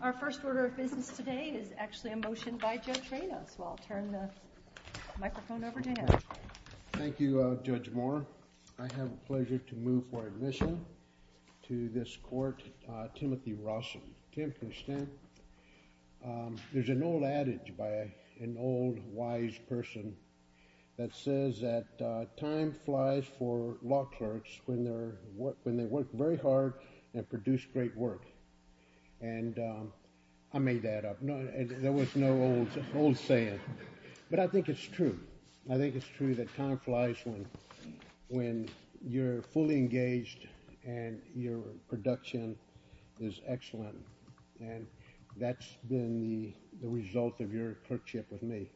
Our first order of business today is actually a motion by Judge Rados. I'll turn the microphone over to him. Thank you, Judge Moore. I have the pleasure to move for admission to this court, Timothy Rawson. Tim, can you stand? There's an old adage by an old, wise person that says that time flies for law clerks when they work very hard and produce great work. And I made that up. There was no old saying. But I think it's true. I think it's true that time flies when you're fully engaged and your production is excellent. And that's been the result of your clerkship with me.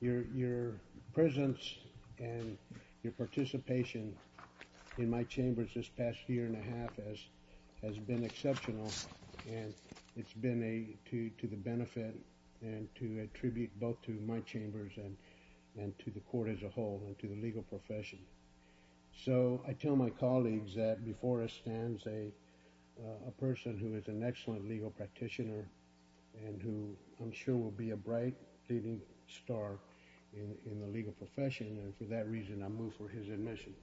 Your presence and your participation in my chambers this past year and a half has been exceptional. And it's been to the benefit and to attribute both to my chambers and to the court as a whole and to the legal profession. So I tell my colleagues that before us stands a person who is an excellent legal practitioner and who I'm sure will be a bright, leading star in the legal profession. And for that reason, I move for his admission.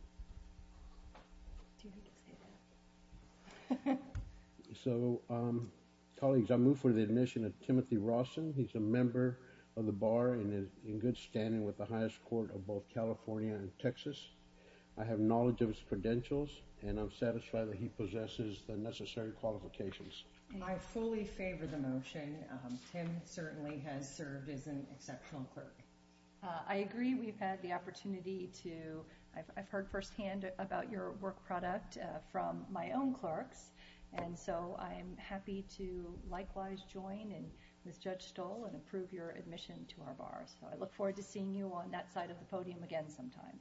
So, colleagues, I move for the admission of Timothy Rawson. He's a member of the bar and is in good standing with the highest court of both California and Texas. I have knowledge of his credentials, and I'm satisfied that he possesses the necessary qualifications. I fully favor the motion. Tim certainly has served as an exceptional clerk. I agree. We've had the opportunity to. I've heard firsthand about your work product from my own clerks. And so I'm happy to likewise join in with Judge Stoll and approve your admission to our bar. So I look forward to seeing you on that side of the podium again sometime.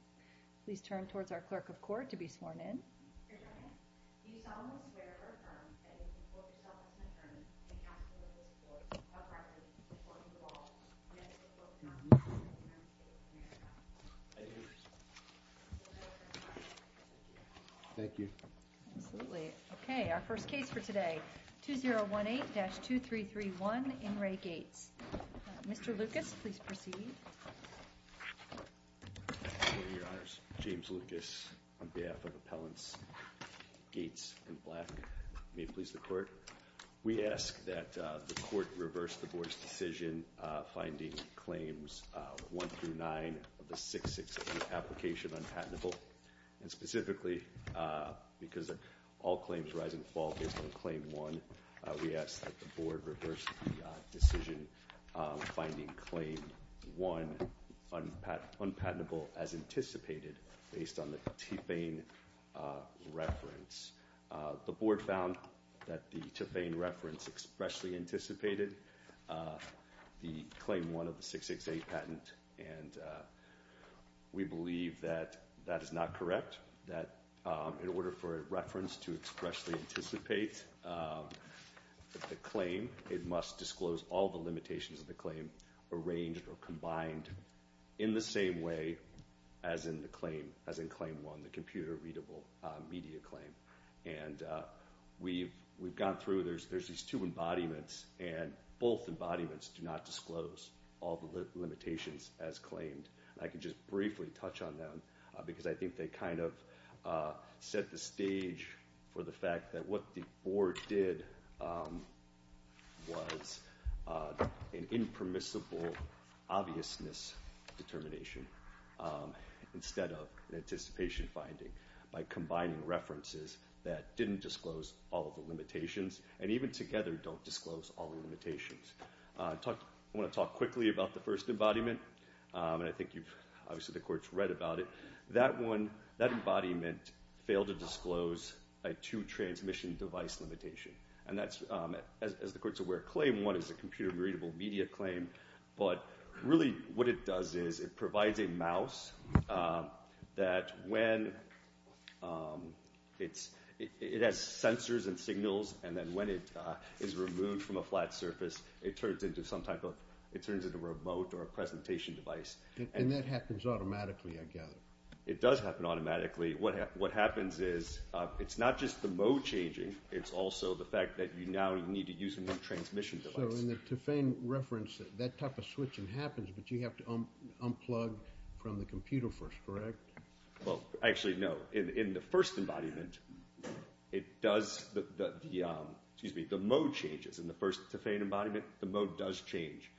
Please turn towards our clerk of court to be sworn in. Your Honor, do you solemnly swear or affirm that you will report yourself as an attorney to the counsel of this court, without reference to the court of the law, and that you will not be prosecuted under any circumstances? I do. Thank you. Absolutely. Okay. Our first case for today, 2018-2331, Ingray Gates. Mr. Lucas, please proceed. Thank you, Your Honors. James Lucas on behalf of Appellants Gates and Black. May it please the Court. We ask that the Court reverse the Board's decision finding Claims 1-9 of the 6-6 application unpatentable. And specifically, because all claims rise and fall based on Claim 1, we ask that the Board reverse the decision finding Claim 1 unpatentable as anticipated, based on the Tufane reference. The Board found that the Tufane reference expressly anticipated the Claim 1 of the 6-6-8 patent, and we believe that that is not correct, that in order for a reference to expressly anticipate the claim, it must disclose all the limitations of the claim arranged or combined in the same way as in the claim, as in Claim 1, the computer-readable media claim. And we've gone through, there's these two embodiments, and both embodiments do not disclose all the limitations as claimed. I can just briefly touch on them, because I think they kind of set the stage for the fact that what the Board did was an impermissible obviousness determination, instead of an anticipation finding, by combining references that didn't disclose all of the limitations, and even together don't disclose all the limitations. I want to talk quickly about the first embodiment, and I think obviously the Court's read about it. That embodiment failed to disclose a two-transmission device limitation, and that's, as the Court's aware, Claim 1 is a computer-readable media claim, but really what it does is it provides a mouse that when it has sensors and signals, and then when it is removed from a flat surface, it turns into a remote or a presentation device. And that happens automatically, I gather. It does happen automatically. What happens is it's not just the mode changing, it's also the fact that you now need to use a new transmission device. So in the Tufane reference, that type of switching happens, but you have to unplug from the computer first, correct? Well, actually, no. In the first embodiment, the mode changes. In the first Tufane embodiment, the mode does change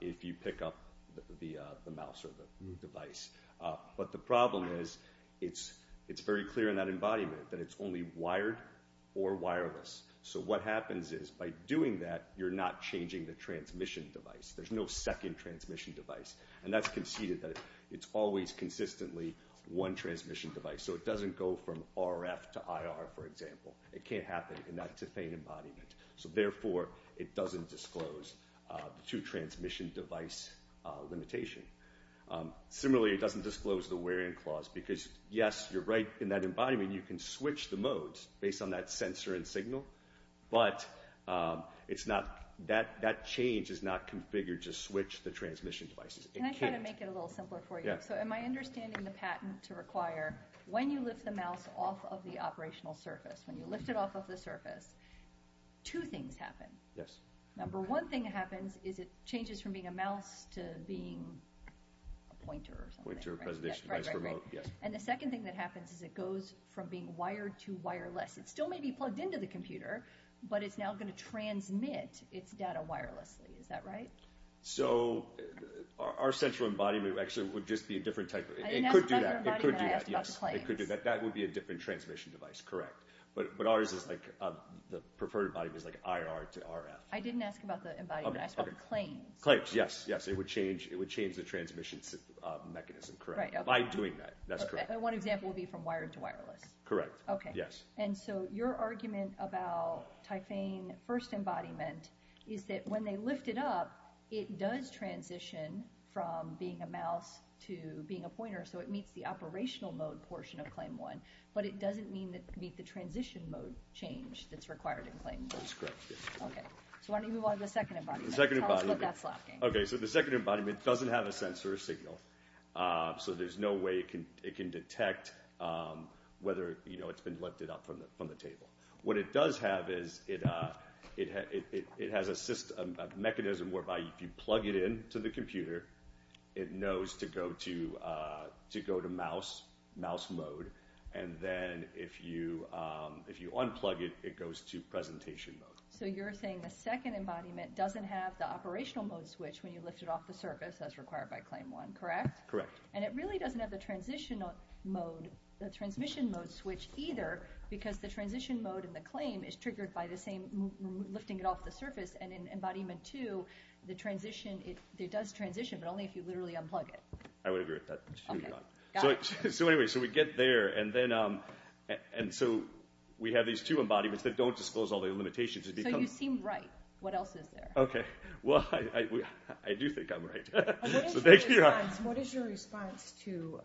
if you pick up the mouse or the device. But the problem is it's very clear in that embodiment that it's only wired or wireless. So what happens is by doing that, you're not changing the transmission device. There's no second transmission device. And that's conceded that it's always consistently one transmission device. So it doesn't go from RF to IR, for example. It can't happen in that Tufane embodiment. So therefore, it doesn't disclose the two-transmission device limitation. Similarly, it doesn't disclose the wear-in clause because, yes, you're right in that embodiment. But that change is not configured to switch the transmission devices. It can't. Can I kind of make it a little simpler for you? Yeah. So am I understanding the patent to require when you lift the mouse off of the operational surface, when you lift it off of the surface, two things happen. Yes. Number one thing that happens is it changes from being a mouse to being a pointer or something. Pointer, presentation device, remote. Right, right, right. And the second thing that happens is it goes from being wired to wireless. It still may be plugged into the computer, but it's now going to transmit its data wirelessly. Is that right? So our central embodiment actually would just be a different type. I didn't ask about the embodiment. I asked about the claims. Yes, it could do that. That would be a different transmission device, correct. But ours is like the preferred embodiment is like IR to RF. I didn't ask about the embodiment. I asked about the claims. Claims, yes, yes. It would change the transmission mechanism, correct, by doing that. That's correct. And one example would be from wired to wireless. Correct, yes. And so your argument about Typhane first embodiment is that when they lift it up, it does transition from being a mouse to being a pointer. So it meets the operational mode portion of Claim 1, but it doesn't meet the transition mode change that's required in Claim 1. That's correct, yes. Okay. So why don't you move on to the second embodiment. The second embodiment. Tell us what that's lacking. Okay, so the second embodiment doesn't have a sensor or signal. So there's no way it can detect whether it's been lifted up from the table. What it does have is it has a mechanism whereby if you plug it into the computer, it knows to go to mouse mode. And then if you unplug it, it goes to presentation mode. So you're saying the second embodiment doesn't have the operational mode switch when you lift it off the surface as required by Claim 1, correct? Correct. And it really doesn't have the transmission mode switch either because the transition mode in the claim is triggered by lifting it off the surface, and in Embodiment 2, it does transition, but only if you literally unplug it. I would agree with that. So anyway, so we get there, and so we have these two embodiments that don't disclose all the limitations. So you seem right. What else is there? Okay, well, I do think I'm right. So thank you. What is your response to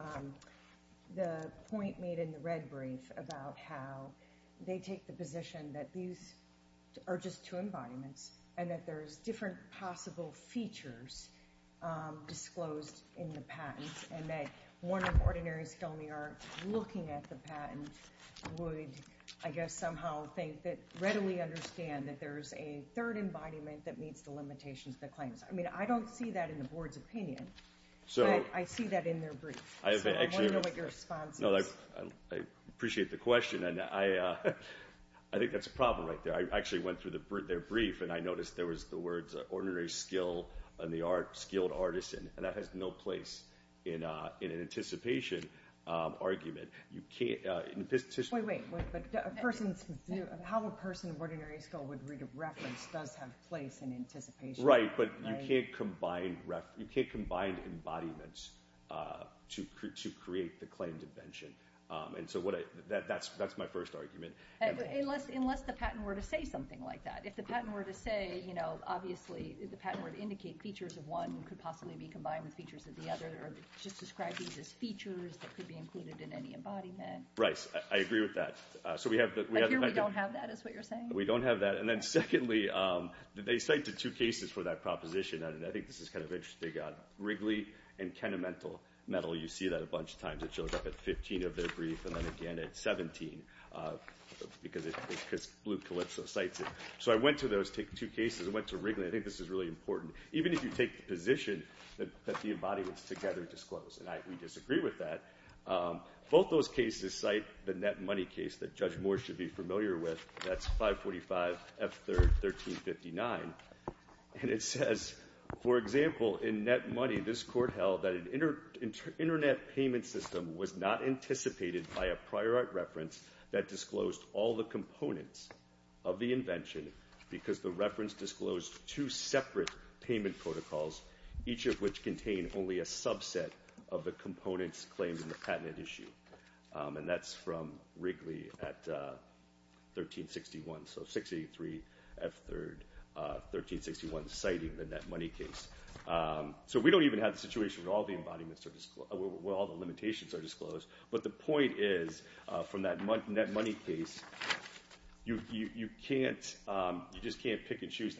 the point made in the red brief about how they take the position that these are just two embodiments and that there's different possible features disclosed in the patent and that one of Ordinary's filming art looking at the patent would, I guess, somehow think that readily understand that there's a third embodiment that meets the limitations of the claims. I mean, I don't see that in the Board's opinion, but I see that in their brief. So I want to know what your response is. I appreciate the question, and I think that's a problem right there. I actually went through their brief, and I noticed there was the words ordinary skill and the art skilled artisan, and that has no place in an anticipation argument. Wait, wait. How a person of ordinary skill would read a reference does have place in anticipation. Right, but you can't combine embodiments to create the claimed invention. And so that's my first argument. Unless the patent were to say something like that. If the patent were to say, you know, obviously the patent were to indicate features of one could possibly be combined with features of the other or just describe these as features that could be included in any embodiment. Right. I agree with that. But here we don't have that is what you're saying? We don't have that. And then secondly, they cite the two cases for that proposition. And I think this is kind of interesting. They got Wrigley and Kenamental metal. You see that a bunch of times. It shows up at 15 of their brief and then again at 17 because Blue Calypso cites it. So I went to those two cases. I went to Wrigley. I think this is really important. Even if you take the position that the embodiments together disclose. And we disagree with that. Both those cases cite the net money case that Judge Moore should be familiar with. That's 545 F. 3rd, 1359. And it says, for example, in net money, this court held that an internet payment system was not anticipated by a prior art reference that disclosed all the components of the invention because the reference disclosed two separate payment protocols, each of which contained only a subset of the components claimed in the patent issue. And that's from Wrigley at 1361. So 683 F. 3rd, 1361 citing the net money case. So we don't even have the situation where all the limitations are disclosed. But the point is from that net money case, you just can't pick and choose.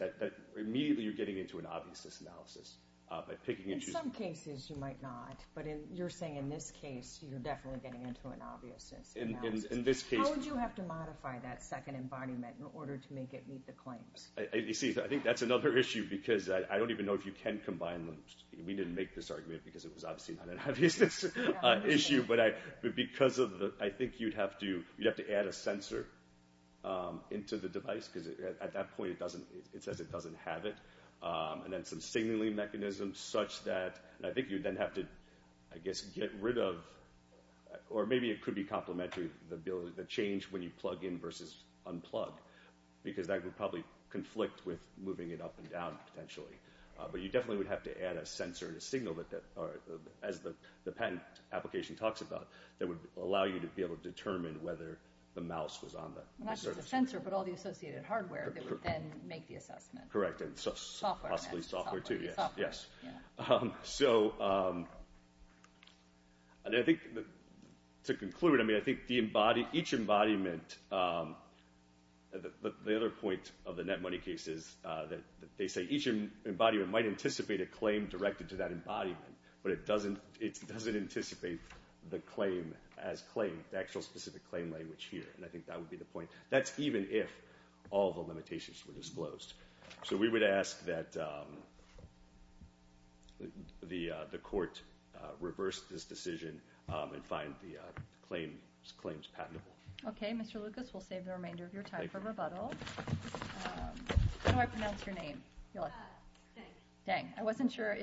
Immediately you're getting into an obviousness analysis by picking and choosing. In some cases you might not. But you're saying in this case you're definitely getting into an obviousness analysis. In this case. How would you have to modify that second embodiment in order to make it meet the claims? You see, I think that's another issue because I don't even know if you can combine them. We didn't make this argument because it was obviously not an obviousness issue. But because I think you'd have to add a sensor into the device because at that point it says it doesn't have it. And then some signaling mechanism such that I think you'd then have to, I guess, get rid of or maybe it could be complementary, the change when you plug in versus unplug, because that would probably conflict with moving it up and down potentially. But you definitely would have to add a sensor and a signal, as the patent application talks about, that would allow you to be able to determine whether the mouse was on the surface. Not just the sensor, but all the associated hardware that would then make the assessment. Correct. Software. Possibly software too, yes. Software, yeah. So I think to conclude, I mean, I think each embodiment, the other point of the net money case is that they say each embodiment might anticipate a claim directed to that embodiment, but it doesn't anticipate the claim as claimed, the actual specific claim language here. And I think that would be the point. That's even if all the limitations were disclosed. So we would ask that the court reverse this decision and find the claims patentable. Okay, Mr. Lucas, we'll save the remainder of your time for rebuttal. How do I pronounce your name? Dang. Dang. I wasn't sure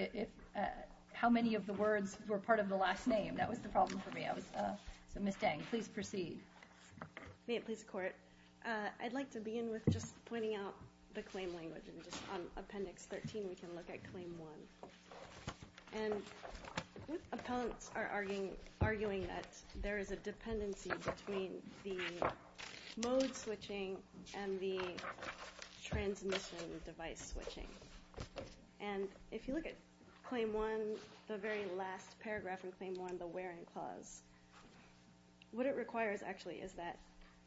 how many of the words were part of the last name. That was the problem for me. So Ms. Dang, please proceed. May it please the Court. I'd like to begin with just pointing out the claim language. And just on Appendix 13, we can look at Claim 1. And appellants are arguing that there is a dependency between the mode switching and the transmission device switching. And if you look at Claim 1, the very last paragraph in Claim 1, the wearing clause, what it requires actually is that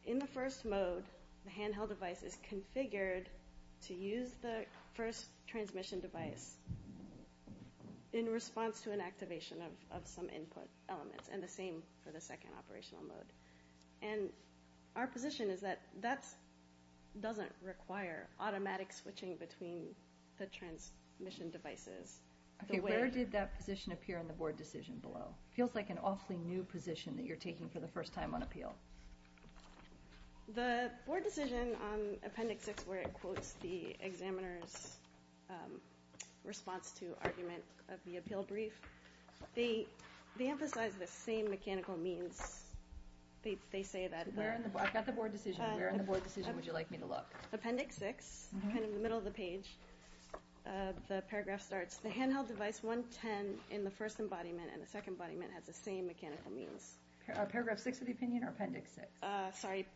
in the first mode, the handheld device is configured to use the first transmission device in response to an activation of some input elements, and the same for the second operational mode. And our position is that that doesn't require automatic switching between the transmission devices. Okay, where did that position appear in the board decision below? It feels like an awfully new position that you're taking for the first time on appeal. The board decision on Appendix 6, where it quotes the examiner's response to argument of the appeal brief, they emphasize the same mechanical means. They say that they're in the board. I've got the board decision. Where in the board decision would you like me to look? Appendix 6, kind of in the middle of the page, the paragraph starts, the handheld device 110 in the first embodiment and the second embodiment has the same mechanical means. Paragraph 6 of the opinion or Appendix 6? Sorry,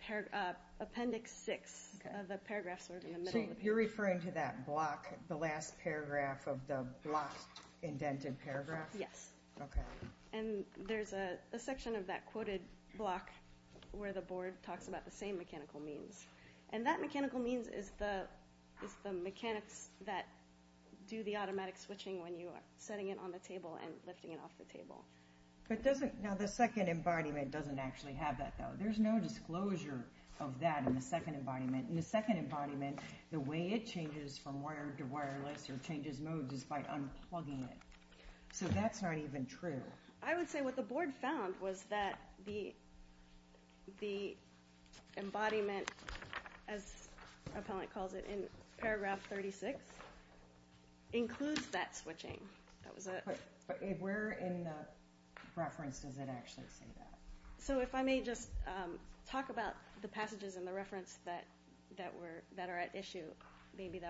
Appendix 6. The paragraphs are in the middle of the page. So you're referring to that block, the last paragraph of the block indented paragraph? Yes. Okay. And there's a section of that quoted block where the board talks about the same mechanical means. And that mechanical means is the mechanics that do the automatic switching when you are setting it on the table and lifting it off the table. Now, the second embodiment doesn't actually have that, though. There's no disclosure of that in the second embodiment. In the second embodiment, the way it changes from wired to wireless or changes mode is by unplugging it. So that's not even true. I would say what the board found was that the embodiment, as Appellant calls it in Paragraph 36, includes that switching. But where in the reference does it actually say that? So if I may just talk about the passages in the reference that are at issue, maybe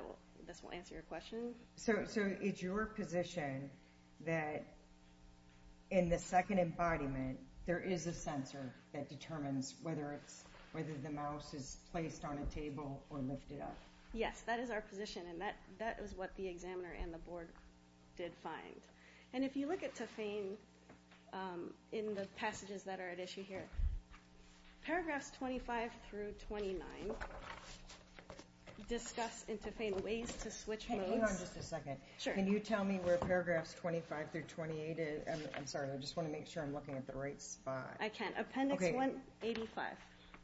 this will answer your question. So it's your position that in the second embodiment there is a sensor that determines whether the mouse is placed on a table or lifted up? Yes, that is our position. And that is what the examiner and the board did find. And if you look at TOFANE in the passages that are at issue here, Paragraphs 25 through 29 discuss in TOFANE ways to switch modes. Hang on just a second. Can you tell me where Paragraphs 25 through 28 is? I'm sorry. I just want to make sure I'm looking at the right spot. I can. Appendix 185.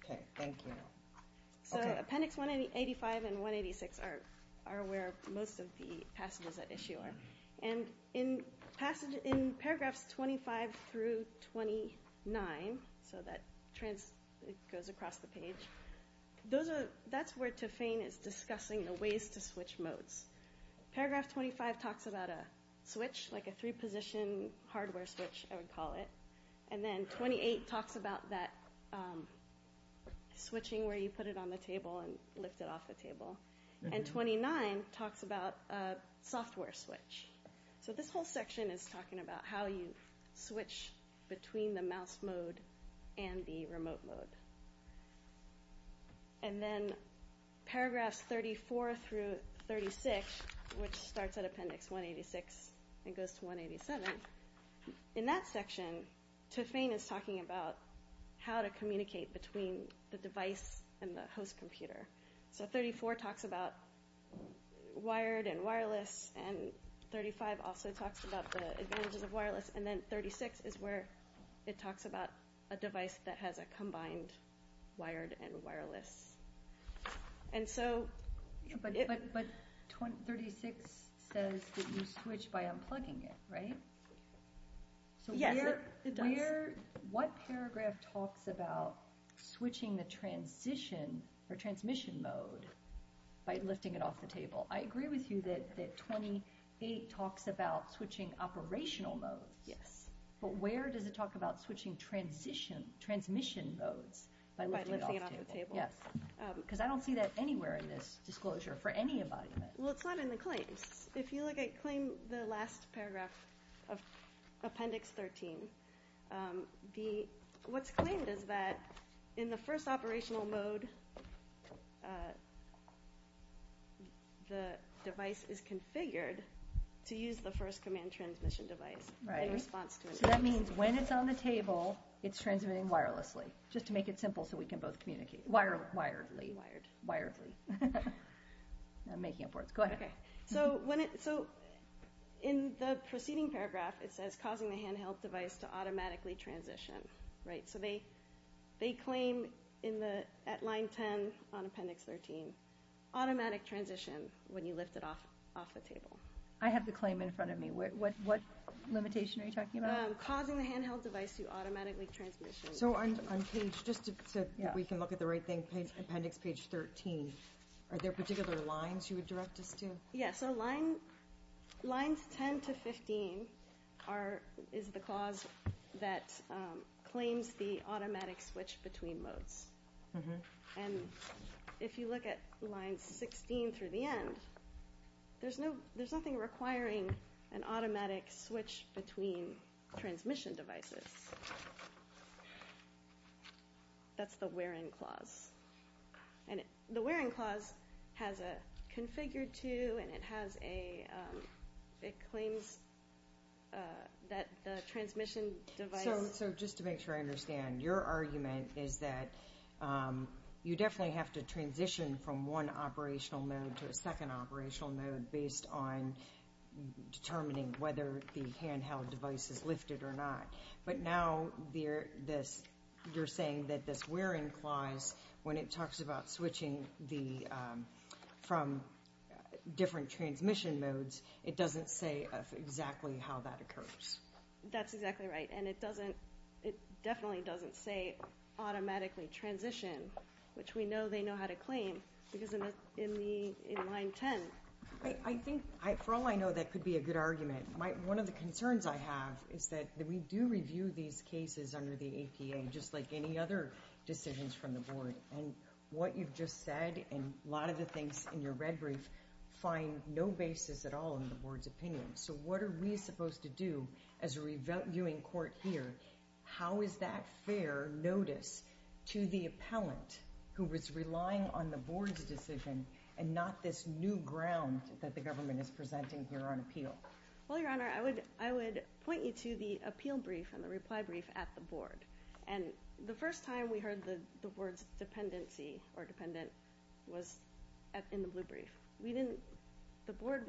Okay. Thank you. So Appendix 185 and 186 are where most of the passages at issue are. And in Paragraphs 25 through 29, so that goes across the page, that's where TOFANE is discussing the ways to switch modes. Paragraph 25 talks about a switch, like a three-position hardware switch, I would call it. And then 28 talks about that switching where you put it on the table and lift it off the table. And 29 talks about a software switch. So this whole section is talking about how you switch between the mouse mode and the remote mode. And then Paragraphs 34 through 36, which starts at Appendix 186 and goes to 187. In that section, TOFANE is talking about how to communicate between the device and the host computer. So 34 talks about wired and wireless, and 35 also talks about the advantages of wireless. And then 36 is where it talks about a device that has a combined wired and wireless. But 36 says that you switch by unplugging it, right? Yes, it does. So what paragraph talks about switching the transmission mode by lifting it off the table? I agree with you that 28 talks about switching operational modes, but where does it talk about switching transmission modes by lifting it off the table? Yes, because I don't see that anywhere in this disclosure for any embodiment. Well, it's not in the claims. If you look at claim the last paragraph of Appendix 13, what's claimed is that in the first operational mode, the device is configured to use the first command transmission device in response to it. So that means when it's on the table, it's transmitting wirelessly, just to make it simple so we can both communicate. Wiredly. Wired. Wiredly. I'm making up words. Go ahead. Okay. So in the preceding paragraph, it says causing the handheld device to automatically transition, right? So they claim at line 10 on Appendix 13, automatic transition when you lift it off the table. I have the claim in front of me. What limitation are you talking about? Causing the handheld device to automatically transition. So on page, just so we can look at the right thing, Appendix 13, are there particular lines you would direct us to? Yeah. So lines 10 to 15 is the clause that claims the automatic switch between modes. And if you look at lines 16 through the end, there's nothing requiring an automatic switch between transmission devices. That's the where-in clause. And the where-in clause has a configured to and it claims that the transmission device. So just to make sure I understand, your argument is that you definitely have to transition from one operational mode to a second operational mode based on determining whether the handheld device is lifted or not. But now you're saying that this where-in clause, when it talks about switching from different transmission modes, it doesn't say exactly how that occurs. That's exactly right. And it definitely doesn't say automatically transition, which we know they know how to claim because in line 10. I think, for all I know, that could be a good argument. One of the concerns I have is that we do review these cases under the APA, just like any other decisions from the Board. And what you've just said and a lot of the things in your red brief find no basis at all in the Board's opinion. So what are we supposed to do as a reviewing court here? How is that fair notice to the appellant who was relying on the Board's decision and not this new ground that the government is presenting here on appeal? Well, Your Honor, I would point you to the appeal brief and the reply brief at the Board. And the first time we heard the words dependency or dependent was in the blue brief. The Board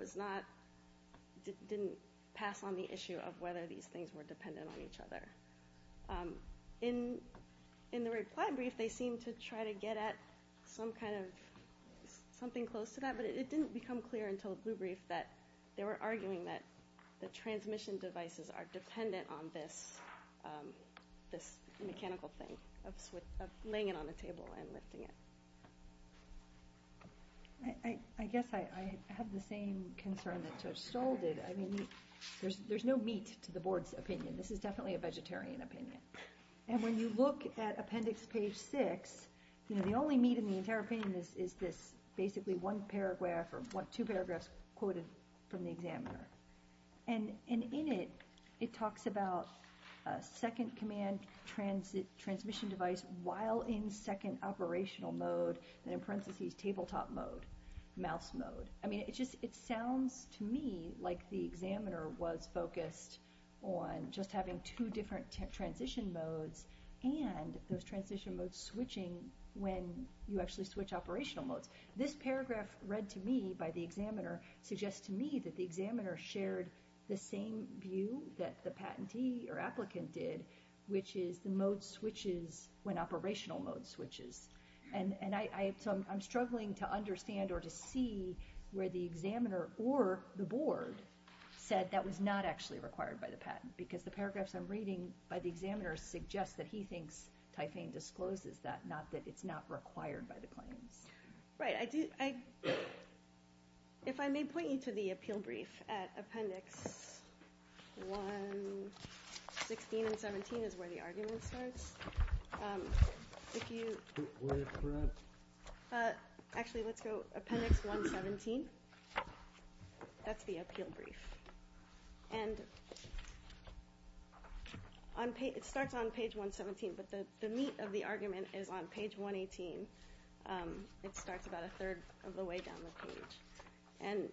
didn't pass on the issue of whether these things were dependent on each other. In the reply brief, they seemed to try to get at something close to that, but it didn't become clear until the blue brief that they were arguing that the transmission devices are dependent on this mechanical thing of laying it on the table and lifting it. I guess I have the same concern that Judge Stoll did. I mean, there's no meat to the Board's opinion. This is definitely a vegetarian opinion. And when you look at appendix page 6, the only meat in the entire opinion is this basically one paragraph or two paragraphs quoted from the examiner. And in it, it talks about a second command transmission device while in second operational mode, and in parentheses, tabletop mode, mouse mode. I mean, it sounds to me like the examiner was focused on just having two different transition modes and those transition modes switching when you actually switch operational modes. This paragraph read to me by the examiner suggests to me that the examiner shared the same view that the patentee or applicant did, which is the mode switches when operational mode switches. And so I'm struggling to understand or to see where the examiner or the Board said that was not actually required by the patent, because the paragraphs I'm reading by the examiner suggest that he thinks Typhaine discloses that, not that it's not required by the claims. Right. If I may point you to the appeal brief at appendix 116 and 117 is where the argument starts. Actually, let's go appendix 117. That's the appeal brief. And it starts on page 117, but the meat of the argument is on page 118. It starts about a third of the way down the page. And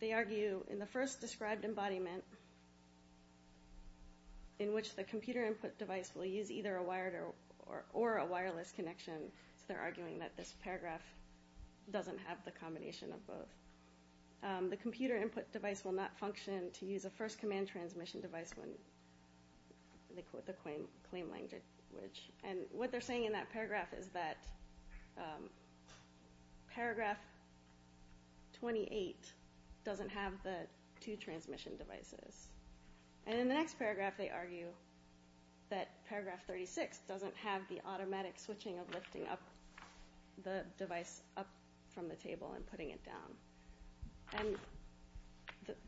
they argue in the first described embodiment, in which the computer input device will use either a wired or a wireless connection. So they're arguing that this paragraph doesn't have the combination of both. The computer input device will not function to use a first command transmission device when they quote the claim language. And what they're saying in that paragraph is that paragraph 28 doesn't have the two transmission devices. And in the next paragraph they argue that paragraph 36 doesn't have the automatic switching of lifting up the device up from the table and putting it down. And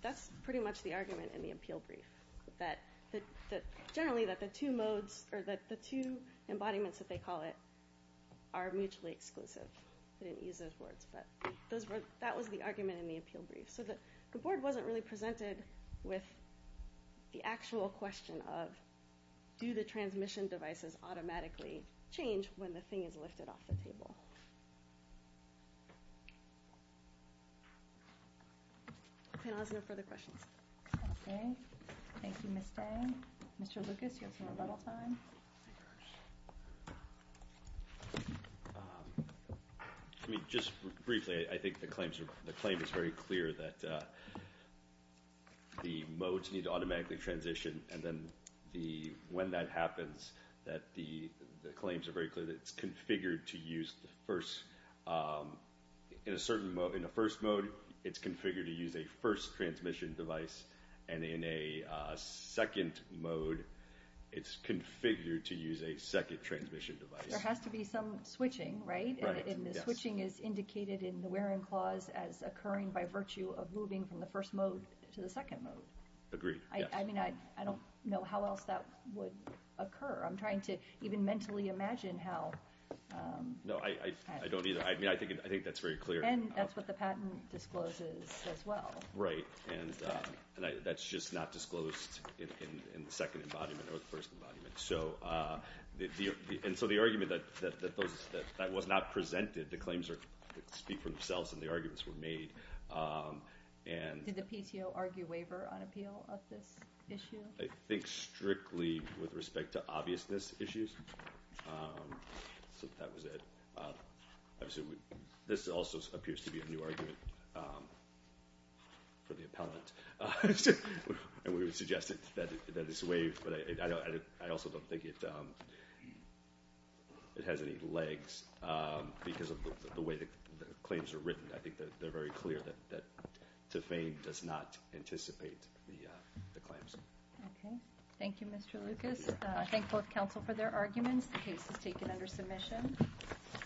that's pretty much the argument in the appeal brief. Generally that the two modes or the two embodiments that they call it are mutually exclusive. They didn't use those words, but that was the argument in the appeal brief. So the board wasn't really presented with the actual question of do the transmission devices automatically change when the thing is lifted off the table. Panel has no further questions. Okay. Thank you, Ms. Day. Mr. Lucas, you have some more bubble time. I mean, just briefly, I think the claim is very clear that the modes need to automatically transition. And then when that happens, the claims are very clear that it's configured to use the first in a certain mode. In the first mode, it's configured to use a first transmission device. And in a second mode, it's configured to use a second transmission device. There has to be some switching, right? And the switching is indicated in the wearing clause as occurring by virtue of moving from the first mode to the second mode. Agreed. I mean, I don't know how else that would occur. I'm trying to even mentally imagine how. No, I don't either. I mean, I think that's very clear. And that's what the patent discloses as well. Right. And that's just not disclosed in the second embodiment or the first embodiment. And so the argument that that was not presented, the claims speak for themselves and the arguments were made. Did the PTO argue waiver on appeal of this issue? I think strictly with respect to obviousness issues. So that was it. This also appears to be a new argument for the appellant. And we would suggest that it's waived, but I also don't think it has any legs because of the way the claims are written. I think that they're very clear that to fame does not anticipate the claims. Thank you, Mr. Lucas. Thank both counsel for their arguments. The case is taken under submission.